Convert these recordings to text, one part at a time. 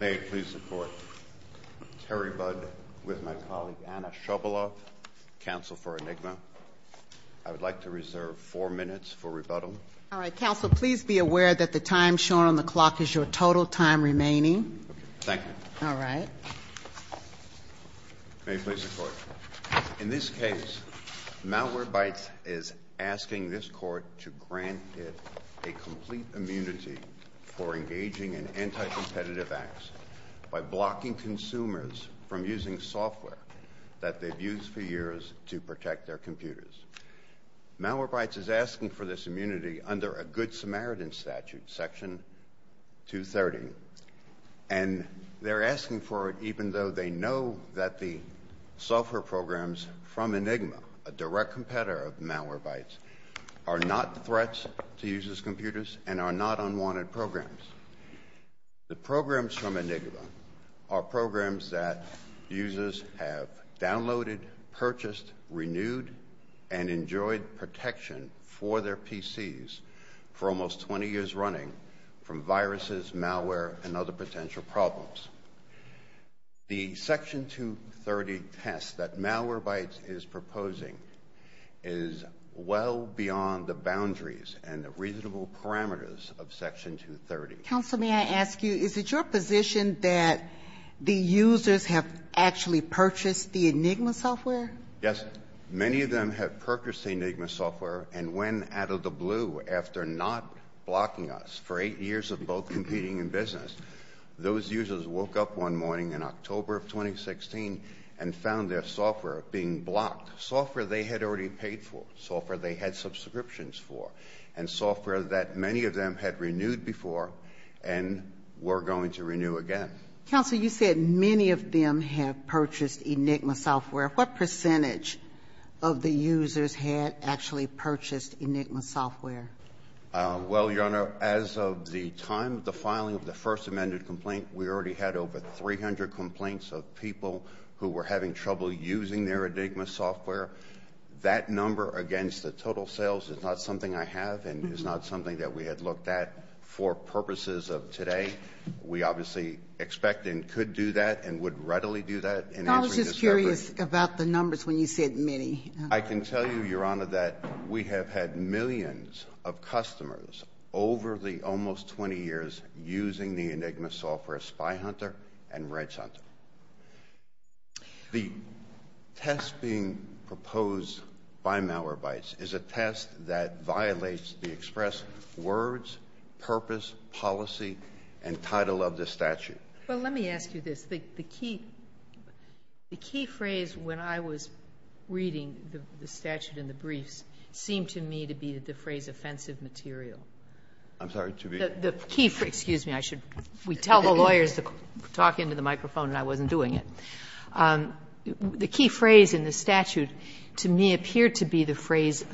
May it please the court, Terry Budd with my colleague, Anna Shoboloff, counsel for Enigma. I would like to reserve four minutes for rebuttal. All right, counsel, please be aware that the time shown on the clock is your total time remaining. Thank you. All right. May it please the court. In this case, Malwarebytes is asking this court to grant it a complete immunity for engaging in anti-competitive acts by blocking consumers from using software that they've used for years to protect their computers. Malwarebytes is asking for this immunity under a Good Samaritan statute, section 230. And they're asking for it even though they know that the software programs from Enigma, a direct competitor of Malwarebytes, are not threats to users' computers and are not unwanted programs. The programs from Enigma are programs that users have downloaded, purchased, renewed, and enjoyed protection for their PCs for almost 20 years running from viruses, malware, and other potential problems. The section 230 test that Malwarebytes is proposing is well beyond the boundaries and the reasonable parameters of section 230. Counsel, may I ask you, is it your position that the users have actually purchased the Enigma software? Yes, many of them have purchased the Enigma software and went out of the blue after not blocking us for eight years of both competing in business. Those users woke up one morning in October of 2016 and found their software being blocked. Software they had already paid for, software they had subscriptions for, and software that many of them had renewed before and were going to renew again. Counsel, you said many of them have purchased Enigma software. What percentage of the users had actually purchased Enigma software? Well, Your Honor, as of the time of the filing of the first amended complaint, we already had over 300 complaints of people who were having trouble using their Enigma software. That number against the total sales is not something I have and is not something that we had looked at for purposes of today. We obviously expect and could do that and would readily do that. And I was just curious about the numbers when you said many. I can tell you, Your Honor, that we have had millions of customers over the almost 20 years using the Enigma software, Spy Hunter and Wrench Hunter. The test being proposed by Malwarebytes is a test that violates the express words, purpose, policy, and title of the statute. But let me ask you this. The key phrase when I was reading the statute in the briefs seemed to me to be the phrase offensive material. I'm sorry, to be? The key phrase, excuse me, I should, we tell the lawyers to talk into the microphone and I wasn't doing it. The key phrase in the statute to me appeared to be the phrase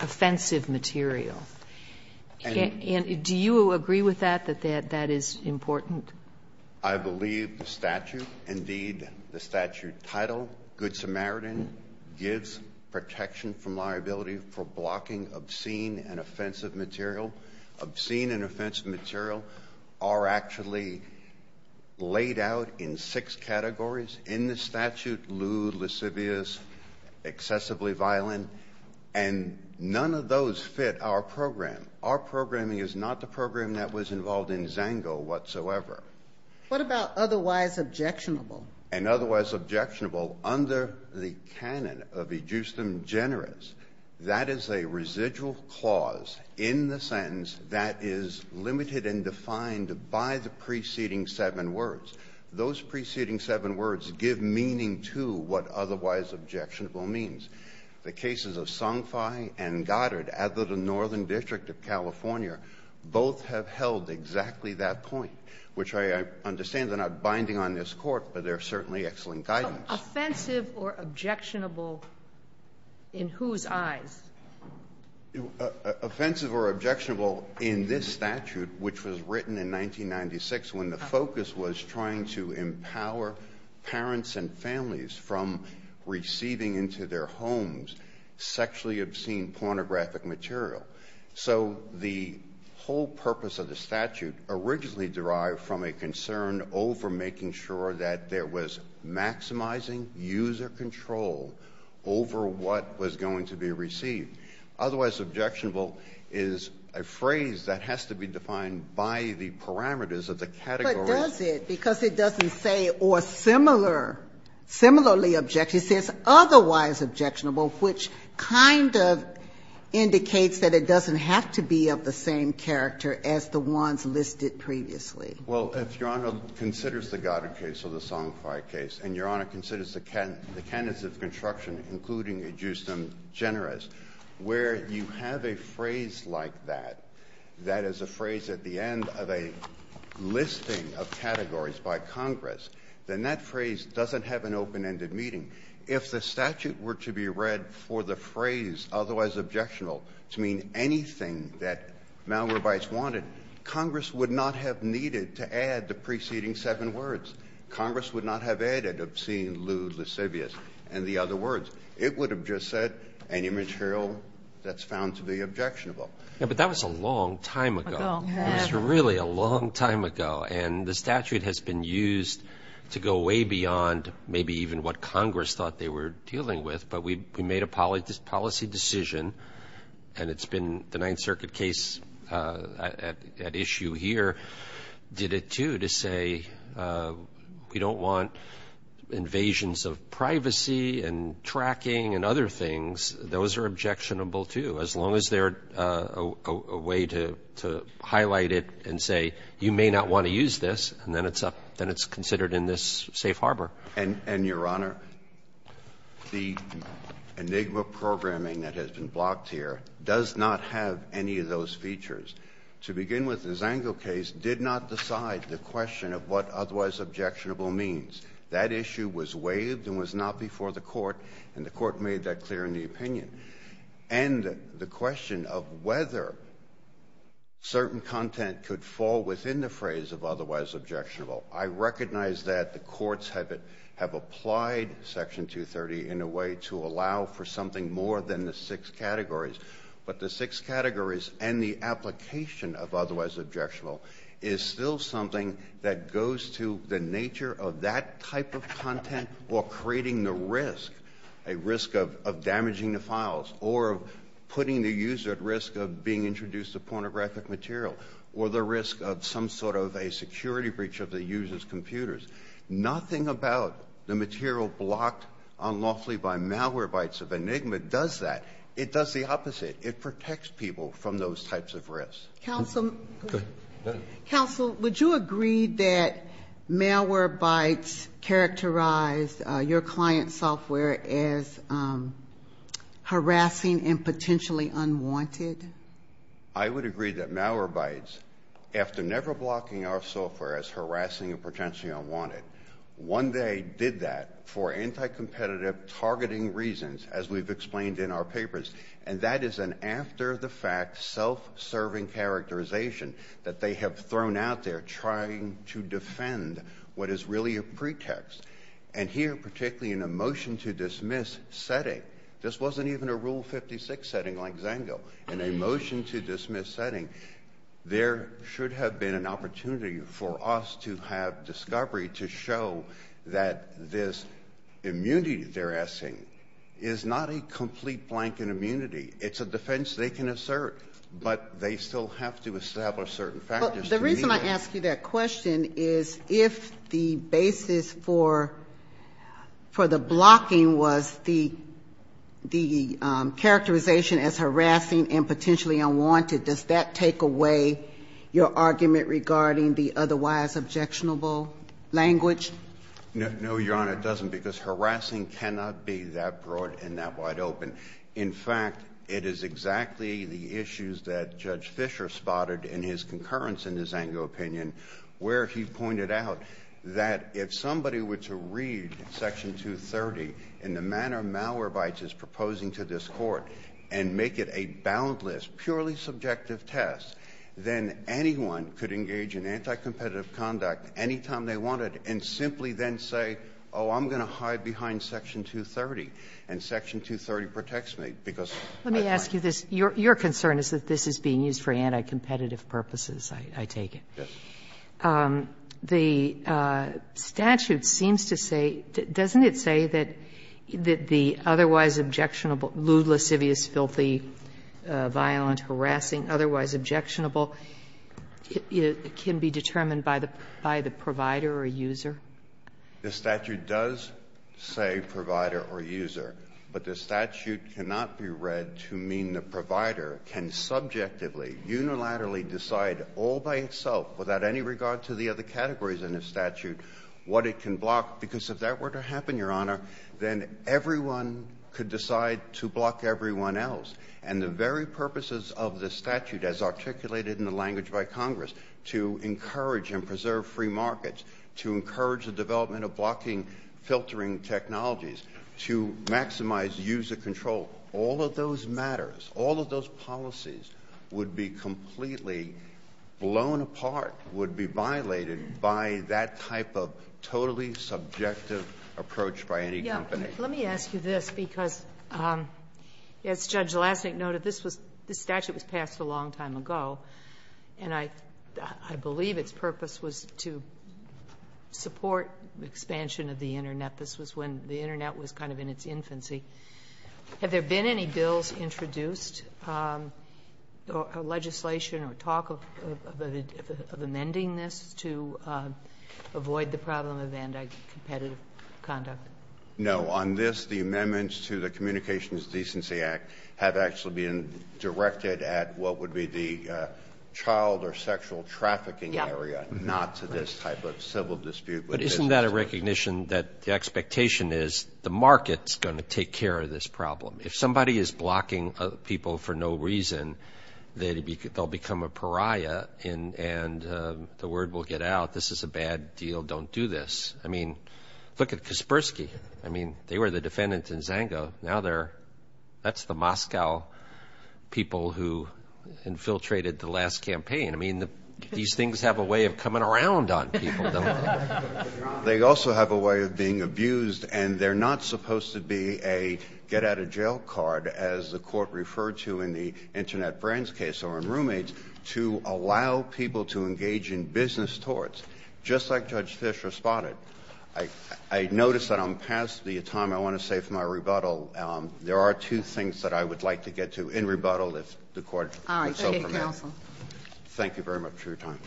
offensive material. And do you agree with that, that that is important? I believe the statute, indeed the statute title, Good Samaritan, gives protection from liability for blocking obscene and offensive material. Obscene and offensive material are actually laid out in six categories in the statute, lewd, lascivious, excessively violent. And none of those fit our program. Our programming is not the program that was involved in Zango whatsoever. What about otherwise objectionable? An otherwise objectionable under the canon of ejusdem generis. That is a residual clause in the sentence that is limited and defined by the preceding seven words. Those preceding seven words give meaning to what otherwise objectionable means. The cases of Song Fai and Goddard out of the Northern District of California, both have held exactly that point. Which I understand they're not binding on this court, but they're certainly excellent guidance. Offensive or objectionable in whose eyes? Offensive or objectionable in this statute, which was written in 1996, when the focus was trying to empower parents and their children to use their children's homes, sexually obscene pornographic material. So the whole purpose of the statute originally derived from a concern over making sure that there was maximizing user control over what was going to be received. Otherwise objectionable is a phrase that has to be defined by the parameters of the category. It does it because it doesn't say or similarly object, it says otherwise objectionable, which kind of indicates that it doesn't have to be of the same character as the ones listed previously. Well, if Your Honor considers the Goddard case or the Song Fai case, and Your Honor considers the canons of construction, including ejusdem generis, where you have a phrase like that, that is a phrase at the end of a listing of categories by Congress, then that phrase doesn't have an open-ended meaning. If the statute were to be read for the phrase otherwise objectionable to mean anything that Malrobites wanted, Congress would not have needed to add the preceding seven Congress would not have added obscene, lewd, lascivious, and the other words. It would have just said any material that's found to be objectionable. Yeah, but that was a long time ago. It was really a long time ago. And the statute has been used to go way beyond maybe even what Congress thought they were dealing with, but we made a policy decision, and it's been the Ninth Circuit case at issue here did it too, to say we don't want invasions of privacy and tracking and other things, those are objectionable too, as long as they're a way to highlight it and say, you may not want to use this, and then it's considered in this safe harbor. And, Your Honor, the Enigma programming that has been blocked here does not have any of those features. To begin with, the Zango case did not decide the question of what otherwise objectionable means. That issue was waived and was not before the court, and the court made that clear in the opinion. And the question of whether certain content could fall within the phrase of otherwise objectionable, I recognize that the courts have applied Section 230 in a way to allow for something more than the six categories. But the six categories and the application of otherwise objectionable is still something that goes to the nature of that type of content or creating the risk, a risk of damaging the files or putting the user at risk of being introduced to pornographic material or the risk of some sort of a security breach of the user's computers. Nothing about the material blocked unlawfully by malware bytes of Enigma does that. It does the opposite. It protects people from those types of risks. Counsel, would you agree that malware bytes characterized your client's software as harassing and potentially unwanted? I would agree that malware bytes, after never blocking our software as harassing and potentially unwanted, one day did that for anti-competitive targeting reasons, as we've explained in our papers. And that is an after-the-fact, self-serving characterization that they have thrown out there trying to defend what is really a pretext. And here, particularly in a motion-to-dismiss setting, this wasn't even a Rule 56 setting like XANGO. In a motion-to-dismiss setting, there should have been an opportunity for us to have an immunity. It's a defense they can assert, but they still have to establish certain factors. The reason I ask you that question is, if the basis for the blocking was the characterization as harassing and potentially unwanted, does that take away your argument regarding the otherwise objectionable language? No, Your Honor, it doesn't. Because harassing cannot be that broad and that wide open. In fact, it is exactly the issues that Judge Fischer spotted in his concurrence in his XANGO opinion, where he pointed out that if somebody were to read Section 230 in the manner Malwarebytes is proposing to this Court and make it a boundless, purely subjective test, then anyone could engage in anti-competitive conduct anytime they wanted and simply then say, oh, I'm going to hide behind Section 230. And Section 230 protects me, because I can't. Let me ask you this. Your concern is that this is being used for anti-competitive purposes, I take it. Yes. The statute seems to say, doesn't it say that the otherwise objectionable lewd, lascivious, filthy, violent, harassing, otherwise objectionable can be determined by the provider or user? The statute does say provider or user. But the statute cannot be read to mean the provider can subjectively, unilaterally decide all by itself, without any regard to the other categories in the statute, what it can block. Because if that were to happen, Your Honor, then everyone could decide to block everyone else. And the very purposes of the statute, as articulated in the language by Congress, to encourage and preserve free markets, to encourage the development of blocking filtering technologies, to maximize user control, all of those matters, all of those policies would be completely blown apart, would be violated by that type of totally subjective approach by any company. Let me ask you this, because as Judge Lasnik noted, this statute was passed a long time ago, and I believe its purpose was to support expansion of the Internet. This was when the Internet was kind of in its infancy. Have there been any bills introduced, legislation or talk of amending this to avoid the problem of anti-competitive conduct? No, on this, the amendments to the Communications Decency Act have actually been directed at what would be the child or sexual trafficking area, not to this type of civil dispute. But isn't that a recognition that the expectation is the market's going to take care of this problem? If somebody is blocking people for no reason, they'll become a pariah, and the word will get out, this is a bad deal, don't do this. I mean, look at Kaspersky. I mean, they were the defendants in Zango. Now they're, that's the Moscow people who infiltrated the last campaign. I mean, these things have a way of coming around on people, don't they? They also have a way of being abused, and they're not supposed to be a get-out-of-jail card, as the court referred to in the Internet Brands case or in Roommates, to allow people to engage in business torts. Just like Judge Fischer spotted, I noticed that on past the time, I want to say for my rebuttal, there are two things that I would like to get to in rebuttal if the court would so permit. Thank you very much for your time.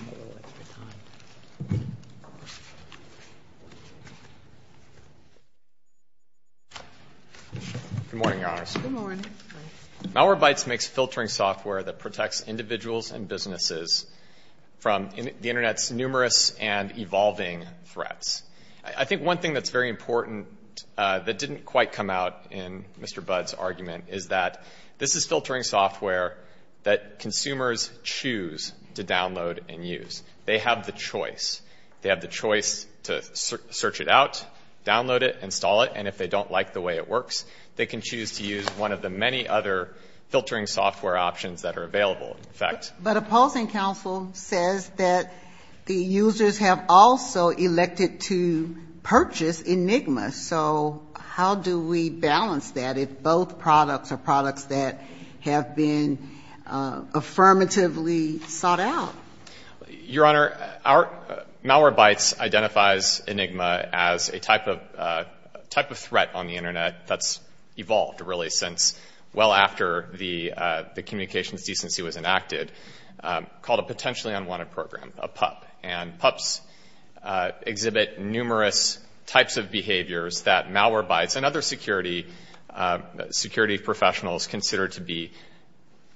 Good morning, Your Honors. Good morning. Malwarebytes makes filtering software that protects individuals and businesses from the Internet's numerous and evolving threats. I think one thing that's very important that didn't quite come out in Mr. Budd's argument is that this is filtering software that consumers choose to download and use. They have the choice. They have the choice to search it out, download it, install it, and if they don't like the way it works, they can choose to use one of the many other filtering software options that are available, in effect. But a polling council says that the users have also elected to purchase Enigma. So how do we balance that if both products are products that have been affirmatively sought out? Your Honor, Malwarebytes identifies Enigma as a type of threat on the Internet that's evolved, really, since well after the communications decency was enacted, called a potentially unwanted program, a PUP. And PUPs exhibit numerous types of behaviors that Malwarebytes and other security professionals consider to be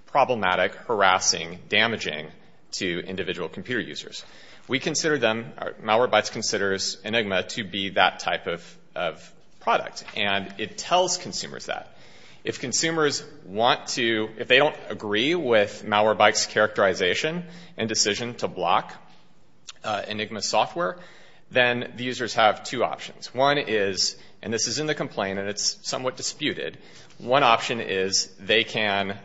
problematic, harassing, damaging to individual computer users. We consider them, Malwarebytes considers Enigma to be that type of product. And it tells consumers that. If consumers want to, if they don't agree with Malwarebytes' characterization and decision to block Enigma software, then the users have two options. One is, and this is in the complaint and it's somewhat disputed, one option is they can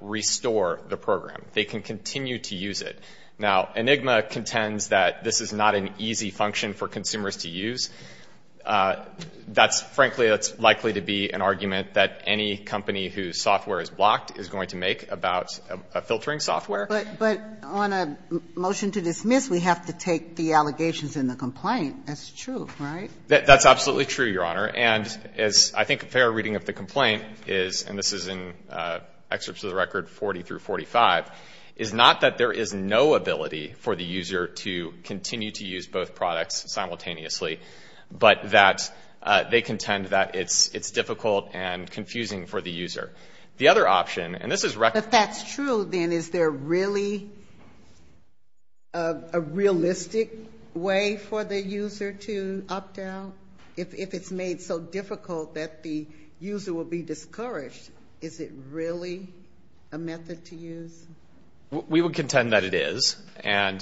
restore the program. They can continue to use it. Now, Enigma contends that this is not an easy function for consumers to use. That's, frankly, that's likely to be an argument that any company whose software is blocked is going to make about a filtering software. But on a motion to dismiss, we have to take the allegations in the complaint. That's true, right? That's absolutely true, Your Honor. And as I think a fair reading of the complaint is, and this is in excerpts of the record 40 through 45, is not that there is no ability for the user to continue to use both products simultaneously. But that they contend that it's difficult and confusing for the user. The other option, and this is record- But that's true, then. Is there really a realistic way for the user to opt out if it's made so difficult that the user will be discouraged? Is it really a method to use? We would contend that it is. And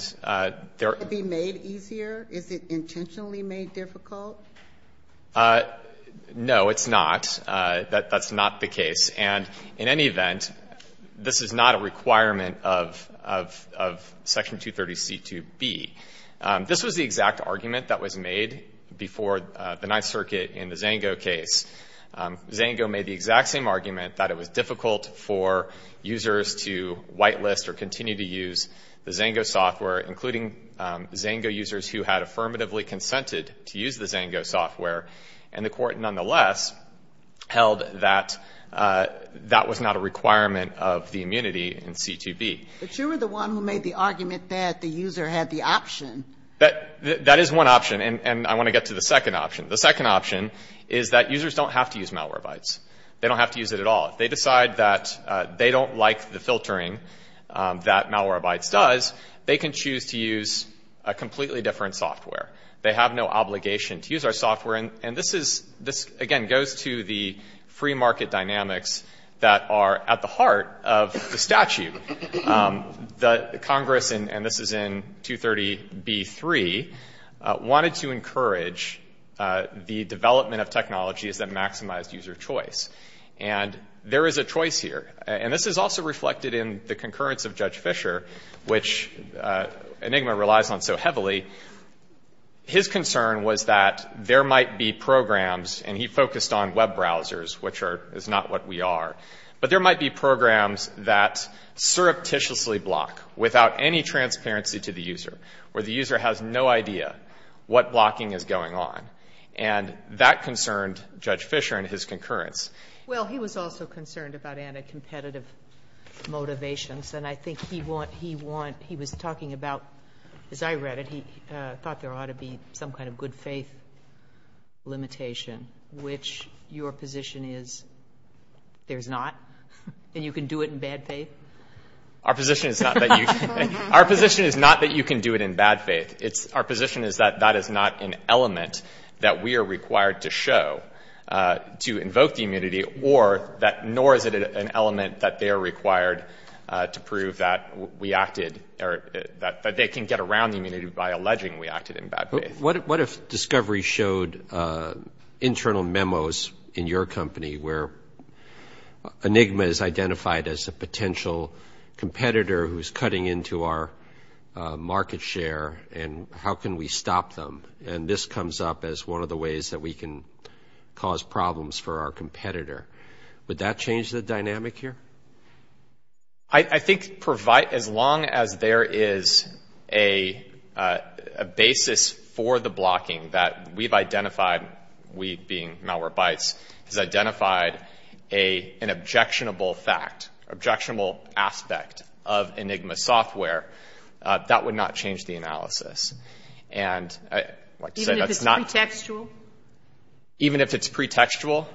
there- Could it be made easier? Is it intentionally made difficult? No, it's not. That's not the case. And in any event, this is not a requirement of Section 230C2B. This was the exact argument that was made before the Ninth Circuit in the Zango case. Zango made the exact same argument that it was difficult for users to whitelist or continue to use the Zango software, including Zango users who had affirmatively consented to use the Zango software. And the court, nonetheless, held that that was not a requirement of the immunity in C2B. But you were the one who made the argument that the user had the option. That is one option. And I want to get to the second option. The second option is that users don't have to use Malwarebytes. They don't have to use it at all. If they decide that they don't like the filtering that Malwarebytes does, they can choose to use a completely different software. They have no obligation to use our software. And this, again, goes to the free market dynamics that are at the heart of the statute. The Congress, and this is in 230B3, wanted to encourage the development of technologies that maximize user choice. And there is a choice here. And this is also reflected in the concurrence of Judge Fisher, which Enigma relies on so heavily. His concern was that there might be programs, and he focused on web browsers, which is not what we are, but there might be programs that surreptitiously block without any transparency to the user, where the user has no idea what blocking is going on. And that concerned Judge Fisher and his concurrence. Well, he was also concerned about anti-competitive motivations. And I think he want he want he was talking about, as I read it, he thought there ought to be some kind of good faith limitation, which your position is there's not, and you can do it in bad faith? Our position is not that you can do it in bad faith. Our position is that that is not an element that we are required to show to invoke the immunity, or that nor is it an element that they are required to prove that we acted, or that they can get around the immunity by alleging we acted in bad faith. What if Discovery showed internal memos in your company where Enigma is identified as a potential competitor who's cutting into our market share, and how can we stop them? And this comes up as one of the ways that we can cause problems for our competitor. Would that change the dynamic here? I think as long as there is a basis for the blocking that we've identified, we being subjectable aspect of Enigma software, that would not change the analysis. And I'd like to say that's not. Even if it's pretextual? Even if it's pretextual.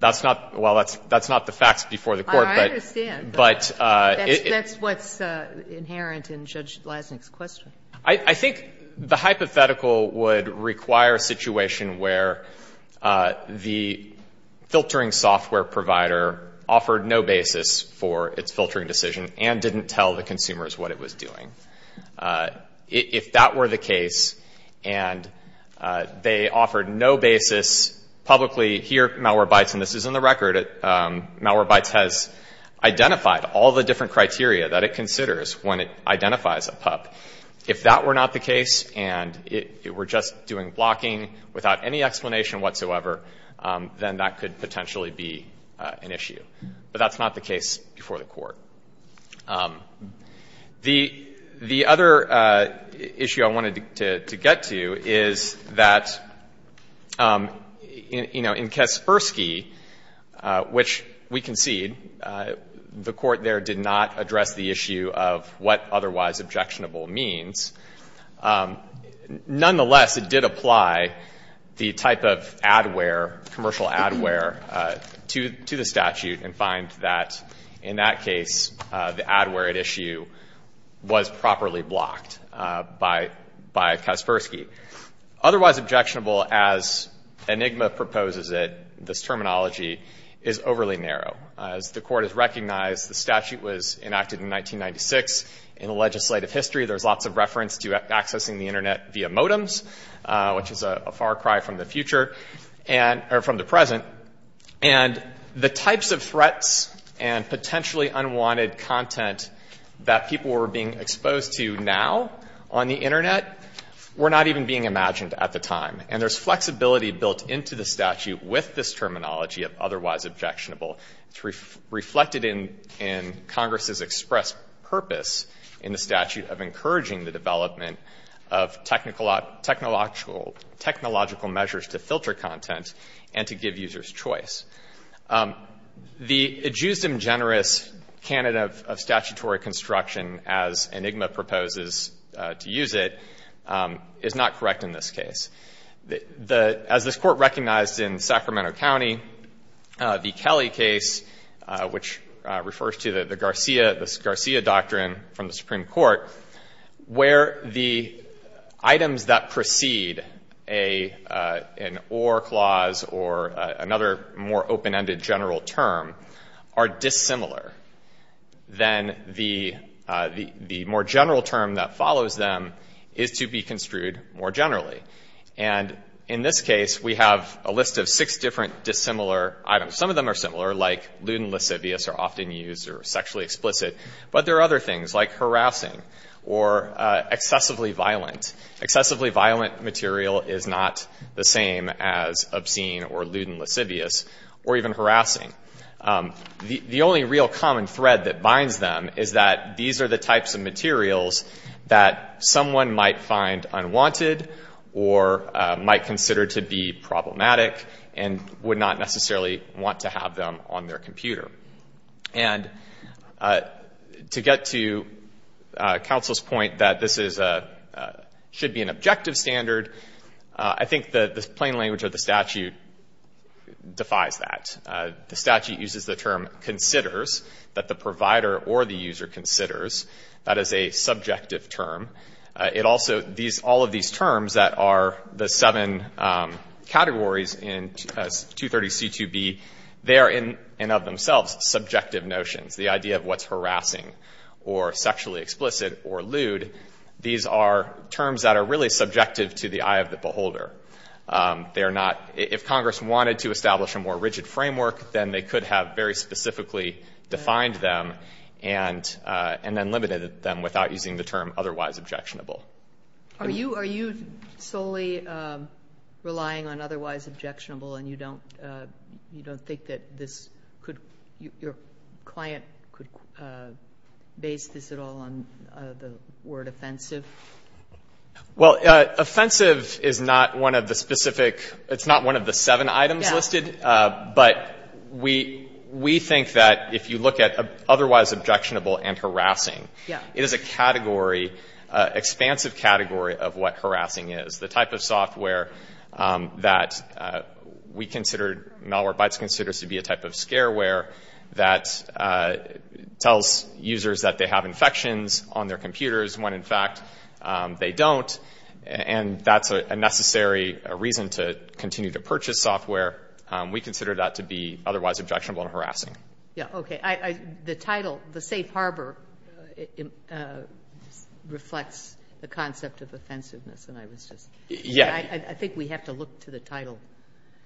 That's not, well, that's not the facts before the Court, but. I understand, but that's what's inherent in Judge Leisnick's question. I think the hypothetical would require a situation where the filtering software provider offered no basis for its filtering decision and didn't tell the consumers what it was doing. If that were the case, and they offered no basis publicly, here Malwarebytes, and this is in the record, Malwarebytes has identified all the different criteria that it considers when it identifies a PUP. If that were not the case and it were just doing blocking without any explanation whatsoever, then that could potentially be an issue. But that's not the case before the Court. The other issue I wanted to get to is that, you know, in Kaspersky, which we concede, the Court there did not address the issue of what otherwise objectionable means. Nonetheless, it did apply the type of adware, commercial adware, to the statute and find that in that case, the adware at issue was properly blocked by Kaspersky. Otherwise objectionable as Enigma proposes it, this terminology is overly narrow. As the Court has recognized, the statute was enacted in 1996. In the legislative history, there's lots of reference to accessing the Internet via modems, which is a far cry from the future, or from the present. And the types of threats and potentially unwanted content that people were being exposed to now on the Internet were not even being imagined at the time. And there's flexibility built into the statute with this terminology of otherwise objectionable. It's reflected in Congress's expressed purpose in the statute of encouraging the development of technological measures to filter content and to give users choice. The ejusdem generis candidate of statutory construction, as Enigma proposes to use it, is not correct in this case. As this Court recognized in Sacramento County, the Kelly case, which refers to the Garcia, this Garcia doctrine from the Supreme Court, where the items that precede an or clause or another more open-ended general term are dissimilar, then the more general term that is construed more generally. And in this case, we have a list of six different dissimilar items. Some of them are similar, like lewd and lascivious are often used or sexually explicit. But there are other things, like harassing or excessively violent. Excessively violent material is not the same as obscene or lewd and lascivious or even harassing. The only real common thread that binds them is that these are the types of materials that someone might find unwanted or might consider to be problematic and would not necessarily want to have them on their computer. And to get to counsel's point that this should be an objective standard, I think the plain language of the statute defies that. The statute uses the term considers, that the provider or the user considers. That is a subjective term. It also, these, all of these terms that are the seven categories in 230C2B, they are in and of themselves subjective notions. The idea of what's harassing or sexually explicit or lewd, these are terms that are really subjective to the eye of the beholder. They are not, if Congress wanted to establish a more rigid framework, then they could have very specifically defined them and then limited them without using the term otherwise objectionable. Are you solely relying on otherwise objectionable and you don't think that this could, your client could base this at all on the word offensive? Well, offensive is not one of the specific, it's not one of the seven items listed. But we think that if you look at otherwise objectionable and harassing, it is a category, expansive category of what harassing is. The type of software that we considered, Malwarebytes considers to be a type of scareware that tells users that they have infections on their computers when in fact they don't. And that's a necessary reason to continue to purchase software. We consider that to be otherwise objectionable and harassing. Okay. The title, the safe harbor, reflects the concept of offensiveness. And I was just, I think we have to look to the title.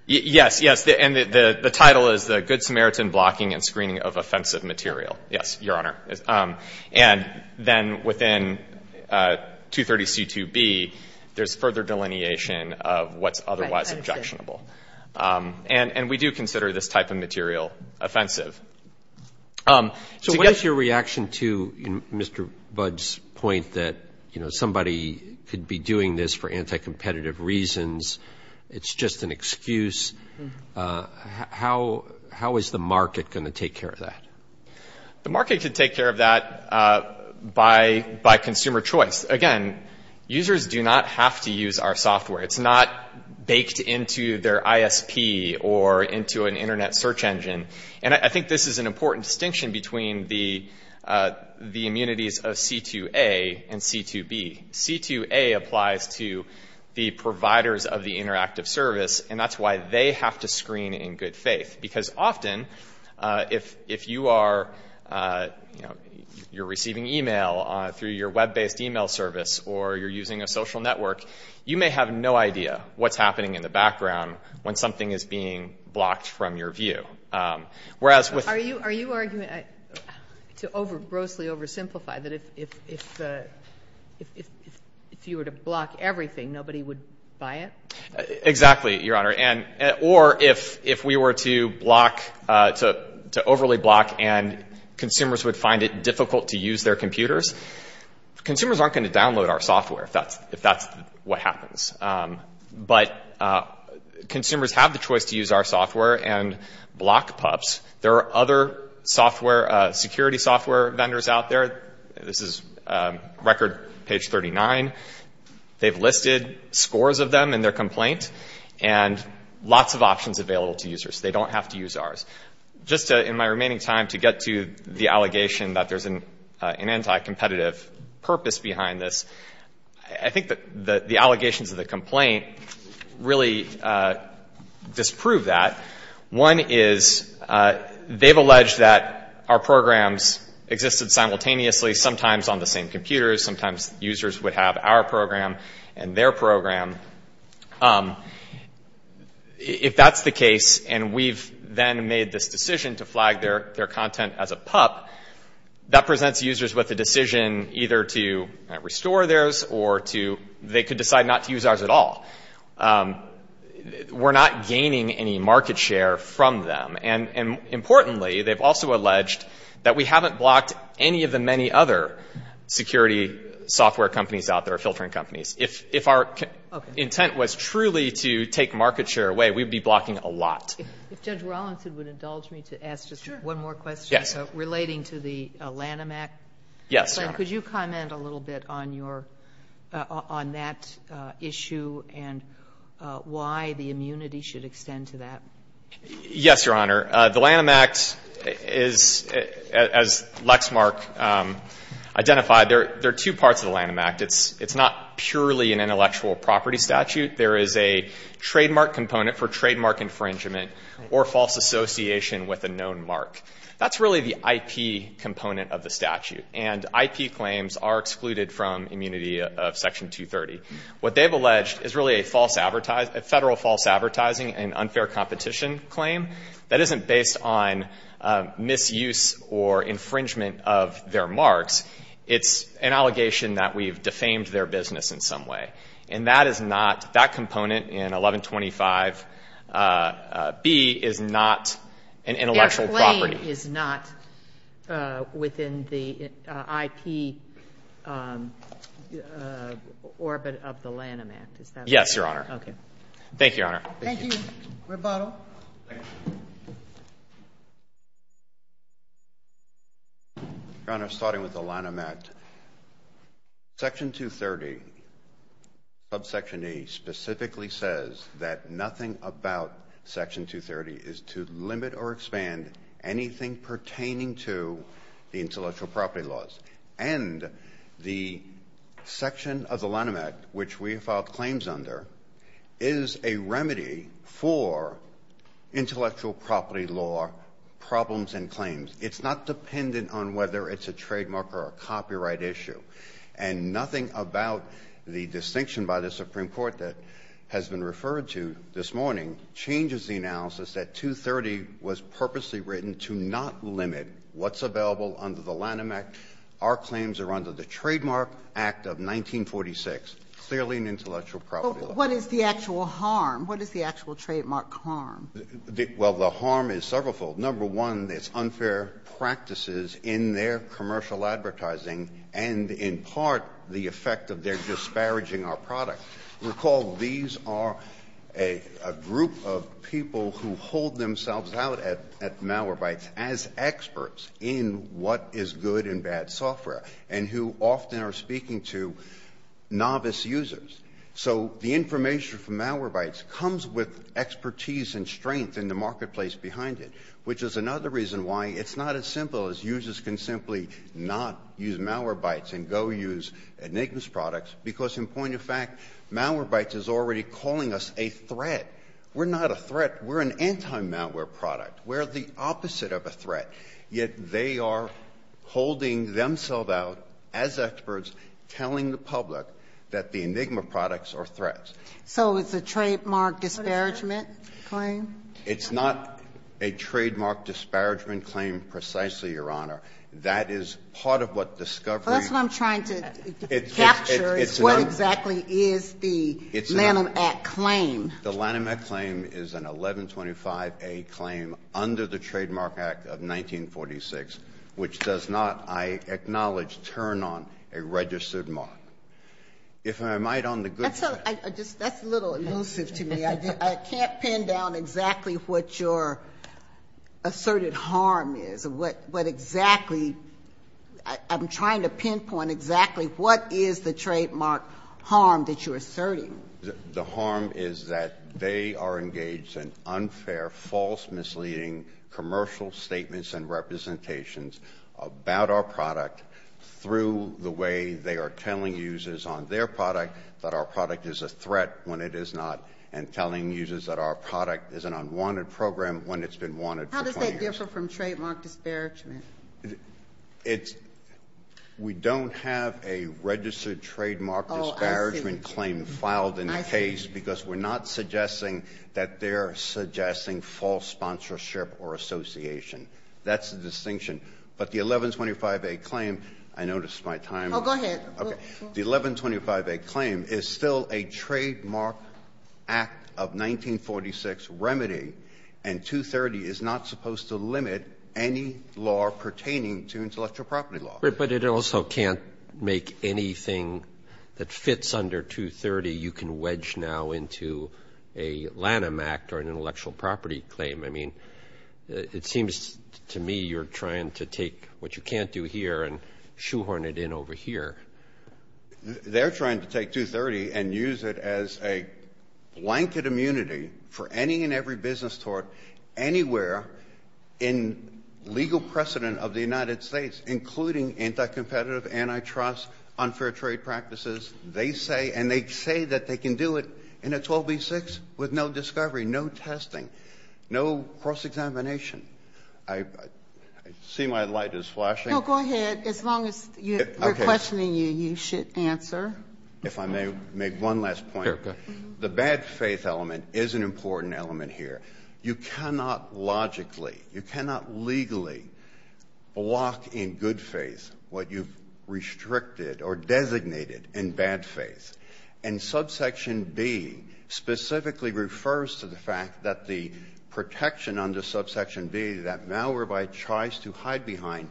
Yes, yes. And the title is the Good Samaritan Blocking and Screening of Offensive Material. Yes, Your Honor. And then within 230C2B, there's further delineation of what's otherwise objectionable. And we do consider this type of material offensive. So what is your reaction to Mr. Budd's point that, you know, somebody could be doing this for anti-competitive reasons, it's just an excuse? How is the market going to take care of that? The market could take care of that by consumer choice. Again, users do not have to use our software. It's not baked into their ISP or into an internet search engine. And I think this is an important distinction between the immunities of C2A and C2B. C2A applies to the providers of the interactive service, and that's why they have to screen in good faith. Because often, if you are, you know, you're receiving e-mail through your web-based e-mail service or you're using a social network, you may have no idea what's happening in the background when something is being blocked from your view. Are you arguing, to grossly oversimplify, that if you were to block everything, nobody would buy it? Exactly, Your Honor. Or if we were to overly block and consumers would find it difficult to use their computers, consumers aren't going to download our software if that's what happens. But consumers have the choice to use our software and block pups. There are other security software vendors out there. This is record page 39. They've listed scores of them in their complaint. And lots of options available to users. They don't have to use ours. Just in my remaining time to get to the allegation that there's an anti-competitive purpose behind this, I think that the allegations of the complaint really disprove that. One is they've alleged that our programs existed simultaneously, sometimes on the same computers, sometimes users would have our program and their program. If that's the case, and we've then made this decision to flag their content as a pup, that presents users with a decision either to restore theirs or they could decide not to use ours at all. We're not gaining any market share from them. And importantly, they've also alleged that we haven't blocked any of the many other security software companies out there, filtering companies. If our intent was truly to take market share away, we'd be blocking a lot. If Judge Rawlinson would indulge me to ask just one more question relating to the Lanham Act. Yes, Your Honor. Could you comment a little bit on that issue and why the immunity should extend to that? Yes, Your Honor. The Lanham Act is, as Lexmark identified, there are two parts of the Lanham Act. It's not purely an intellectual property statute. There is a trademark component for trademark infringement or false association with a known mark. That's really the IP component of the statute. And IP claims are excluded from immunity of Section 230. What they've alleged is really a federal false advertising and unfair competition claim. That isn't based on misuse or infringement of their marks. It's an allegation that we've defamed their business in some way. And that is not, that component in 1125B is not an intellectual property. IP is not within the IP orbit of the Lanham Act, is that right? Yes, Your Honor. Thank you, Your Honor. Thank you. Rebuttal. Your Honor, starting with the Lanham Act, Section 230, subsection E, specifically says that nothing about Section 230 is to limit or expand anything pertaining to the intellectual property laws. And the section of the Lanham Act, which we filed claims under, is a remedy for intellectual property law problems and claims. It's not dependent on whether it's a trademark or a copyright issue. And nothing about the distinction by the Supreme Court that has been referred to this morning changes the analysis that 230 was purposely written to not limit what's available under the Lanham Act. Our claims are under the Trademark Act of 1946, clearly an intellectual property law. But what is the actual harm? What is the actual trademark harm? Well, the harm is severalfold. Number one, there's unfair practices in their commercial advertising and, in part, the effect of their disparaging our product. Recall these are a group of people who hold themselves out at Malwarebytes as experts in what is good and bad software and who often are speaking to novice users. So the information from Malwarebytes comes with expertise and strength in the It's not as simple as users can simply not use Malwarebytes and go use Enigma's products because, in point of fact, Malwarebytes is already calling us a threat. We're not a threat. We're an anti-malware product. We're the opposite of a threat, yet they are holding themselves out as experts telling the public that the Enigma products are threats. So it's a trademark disparagement claim? It's not a trademark disparagement claim precisely, Your Honor. That is part of what discovery It's what I'm trying to capture. It's what exactly is the Lanham Act claim? The Lanham Act claim is an 1125A claim under the Trademark Act of 1946, which does not, I acknowledge, turn on a registered mark. If I might, on the good side That's a little elusive to me. I can't pin down exactly what your asserted harm is, what exactly I'm trying to pinpoint exactly what is the trademark harm that you're asserting. The harm is that they are engaged in unfair, false, misleading commercial statements and representations about our product through the way they are telling users on their product that our product is a threat when it is not and telling users that our product is an unwanted program when it's been wanted for 20 years. How does that differ from trademark disparagement? We don't have a registered trademark disparagement claim filed in the case because we're not suggesting that they're suggesting false sponsorship or association. That's the distinction. But the 1125A claim, I noticed my time Oh, go ahead. The 1125A claim is still a trademark act of 1946 remedy, and 230 is not supposed to limit any law pertaining to intellectual property law. But it also can't make anything that fits under 230 you can wedge now into a Lanham Act or an intellectual property claim. I mean, it seems to me you're trying to take what you can't do here and shoehorn it in over here. They're trying to take 230 and use it as a blanket immunity for any and every business tort anywhere in legal precedent of the United States, including anti-competitive, antitrust, unfair trade practices. They say, and they say that they can do it in a 12b-6 with no discovery, no testing, no cross-examination. I see my light is flashing. No, go ahead. As long as we're questioning you, you should answer. If I may make one last point. Sure, go ahead. The bad faith element is an important element here. You cannot logically, you cannot legally block in good faith what you've restricted or designated in bad faith. And subsection B specifically refers to the fact that the protection under subsection B that Malwarebyte tries to hide behind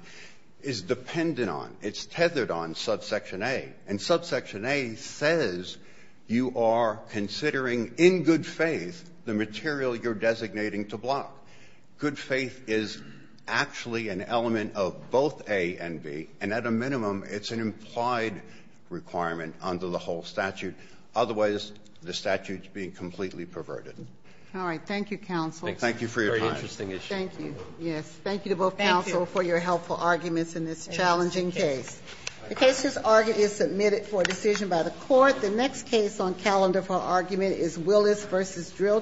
is dependent on, it's tethered on subsection A. And subsection A says you are considering in good faith the material you're designating to block. Good faith is actually an element of both A and B, and at a minimum, it's an implied requirement under the whole statute. Otherwise, the statute is being completely perverted. All right. Thank you, counsel. Thank you for your time. Thank you. Thank you to both counsel for your helpful arguments in this challenging case. The case is submitted for decision by the Court. The next case on calendar for argument is Willis v. Drill Tech.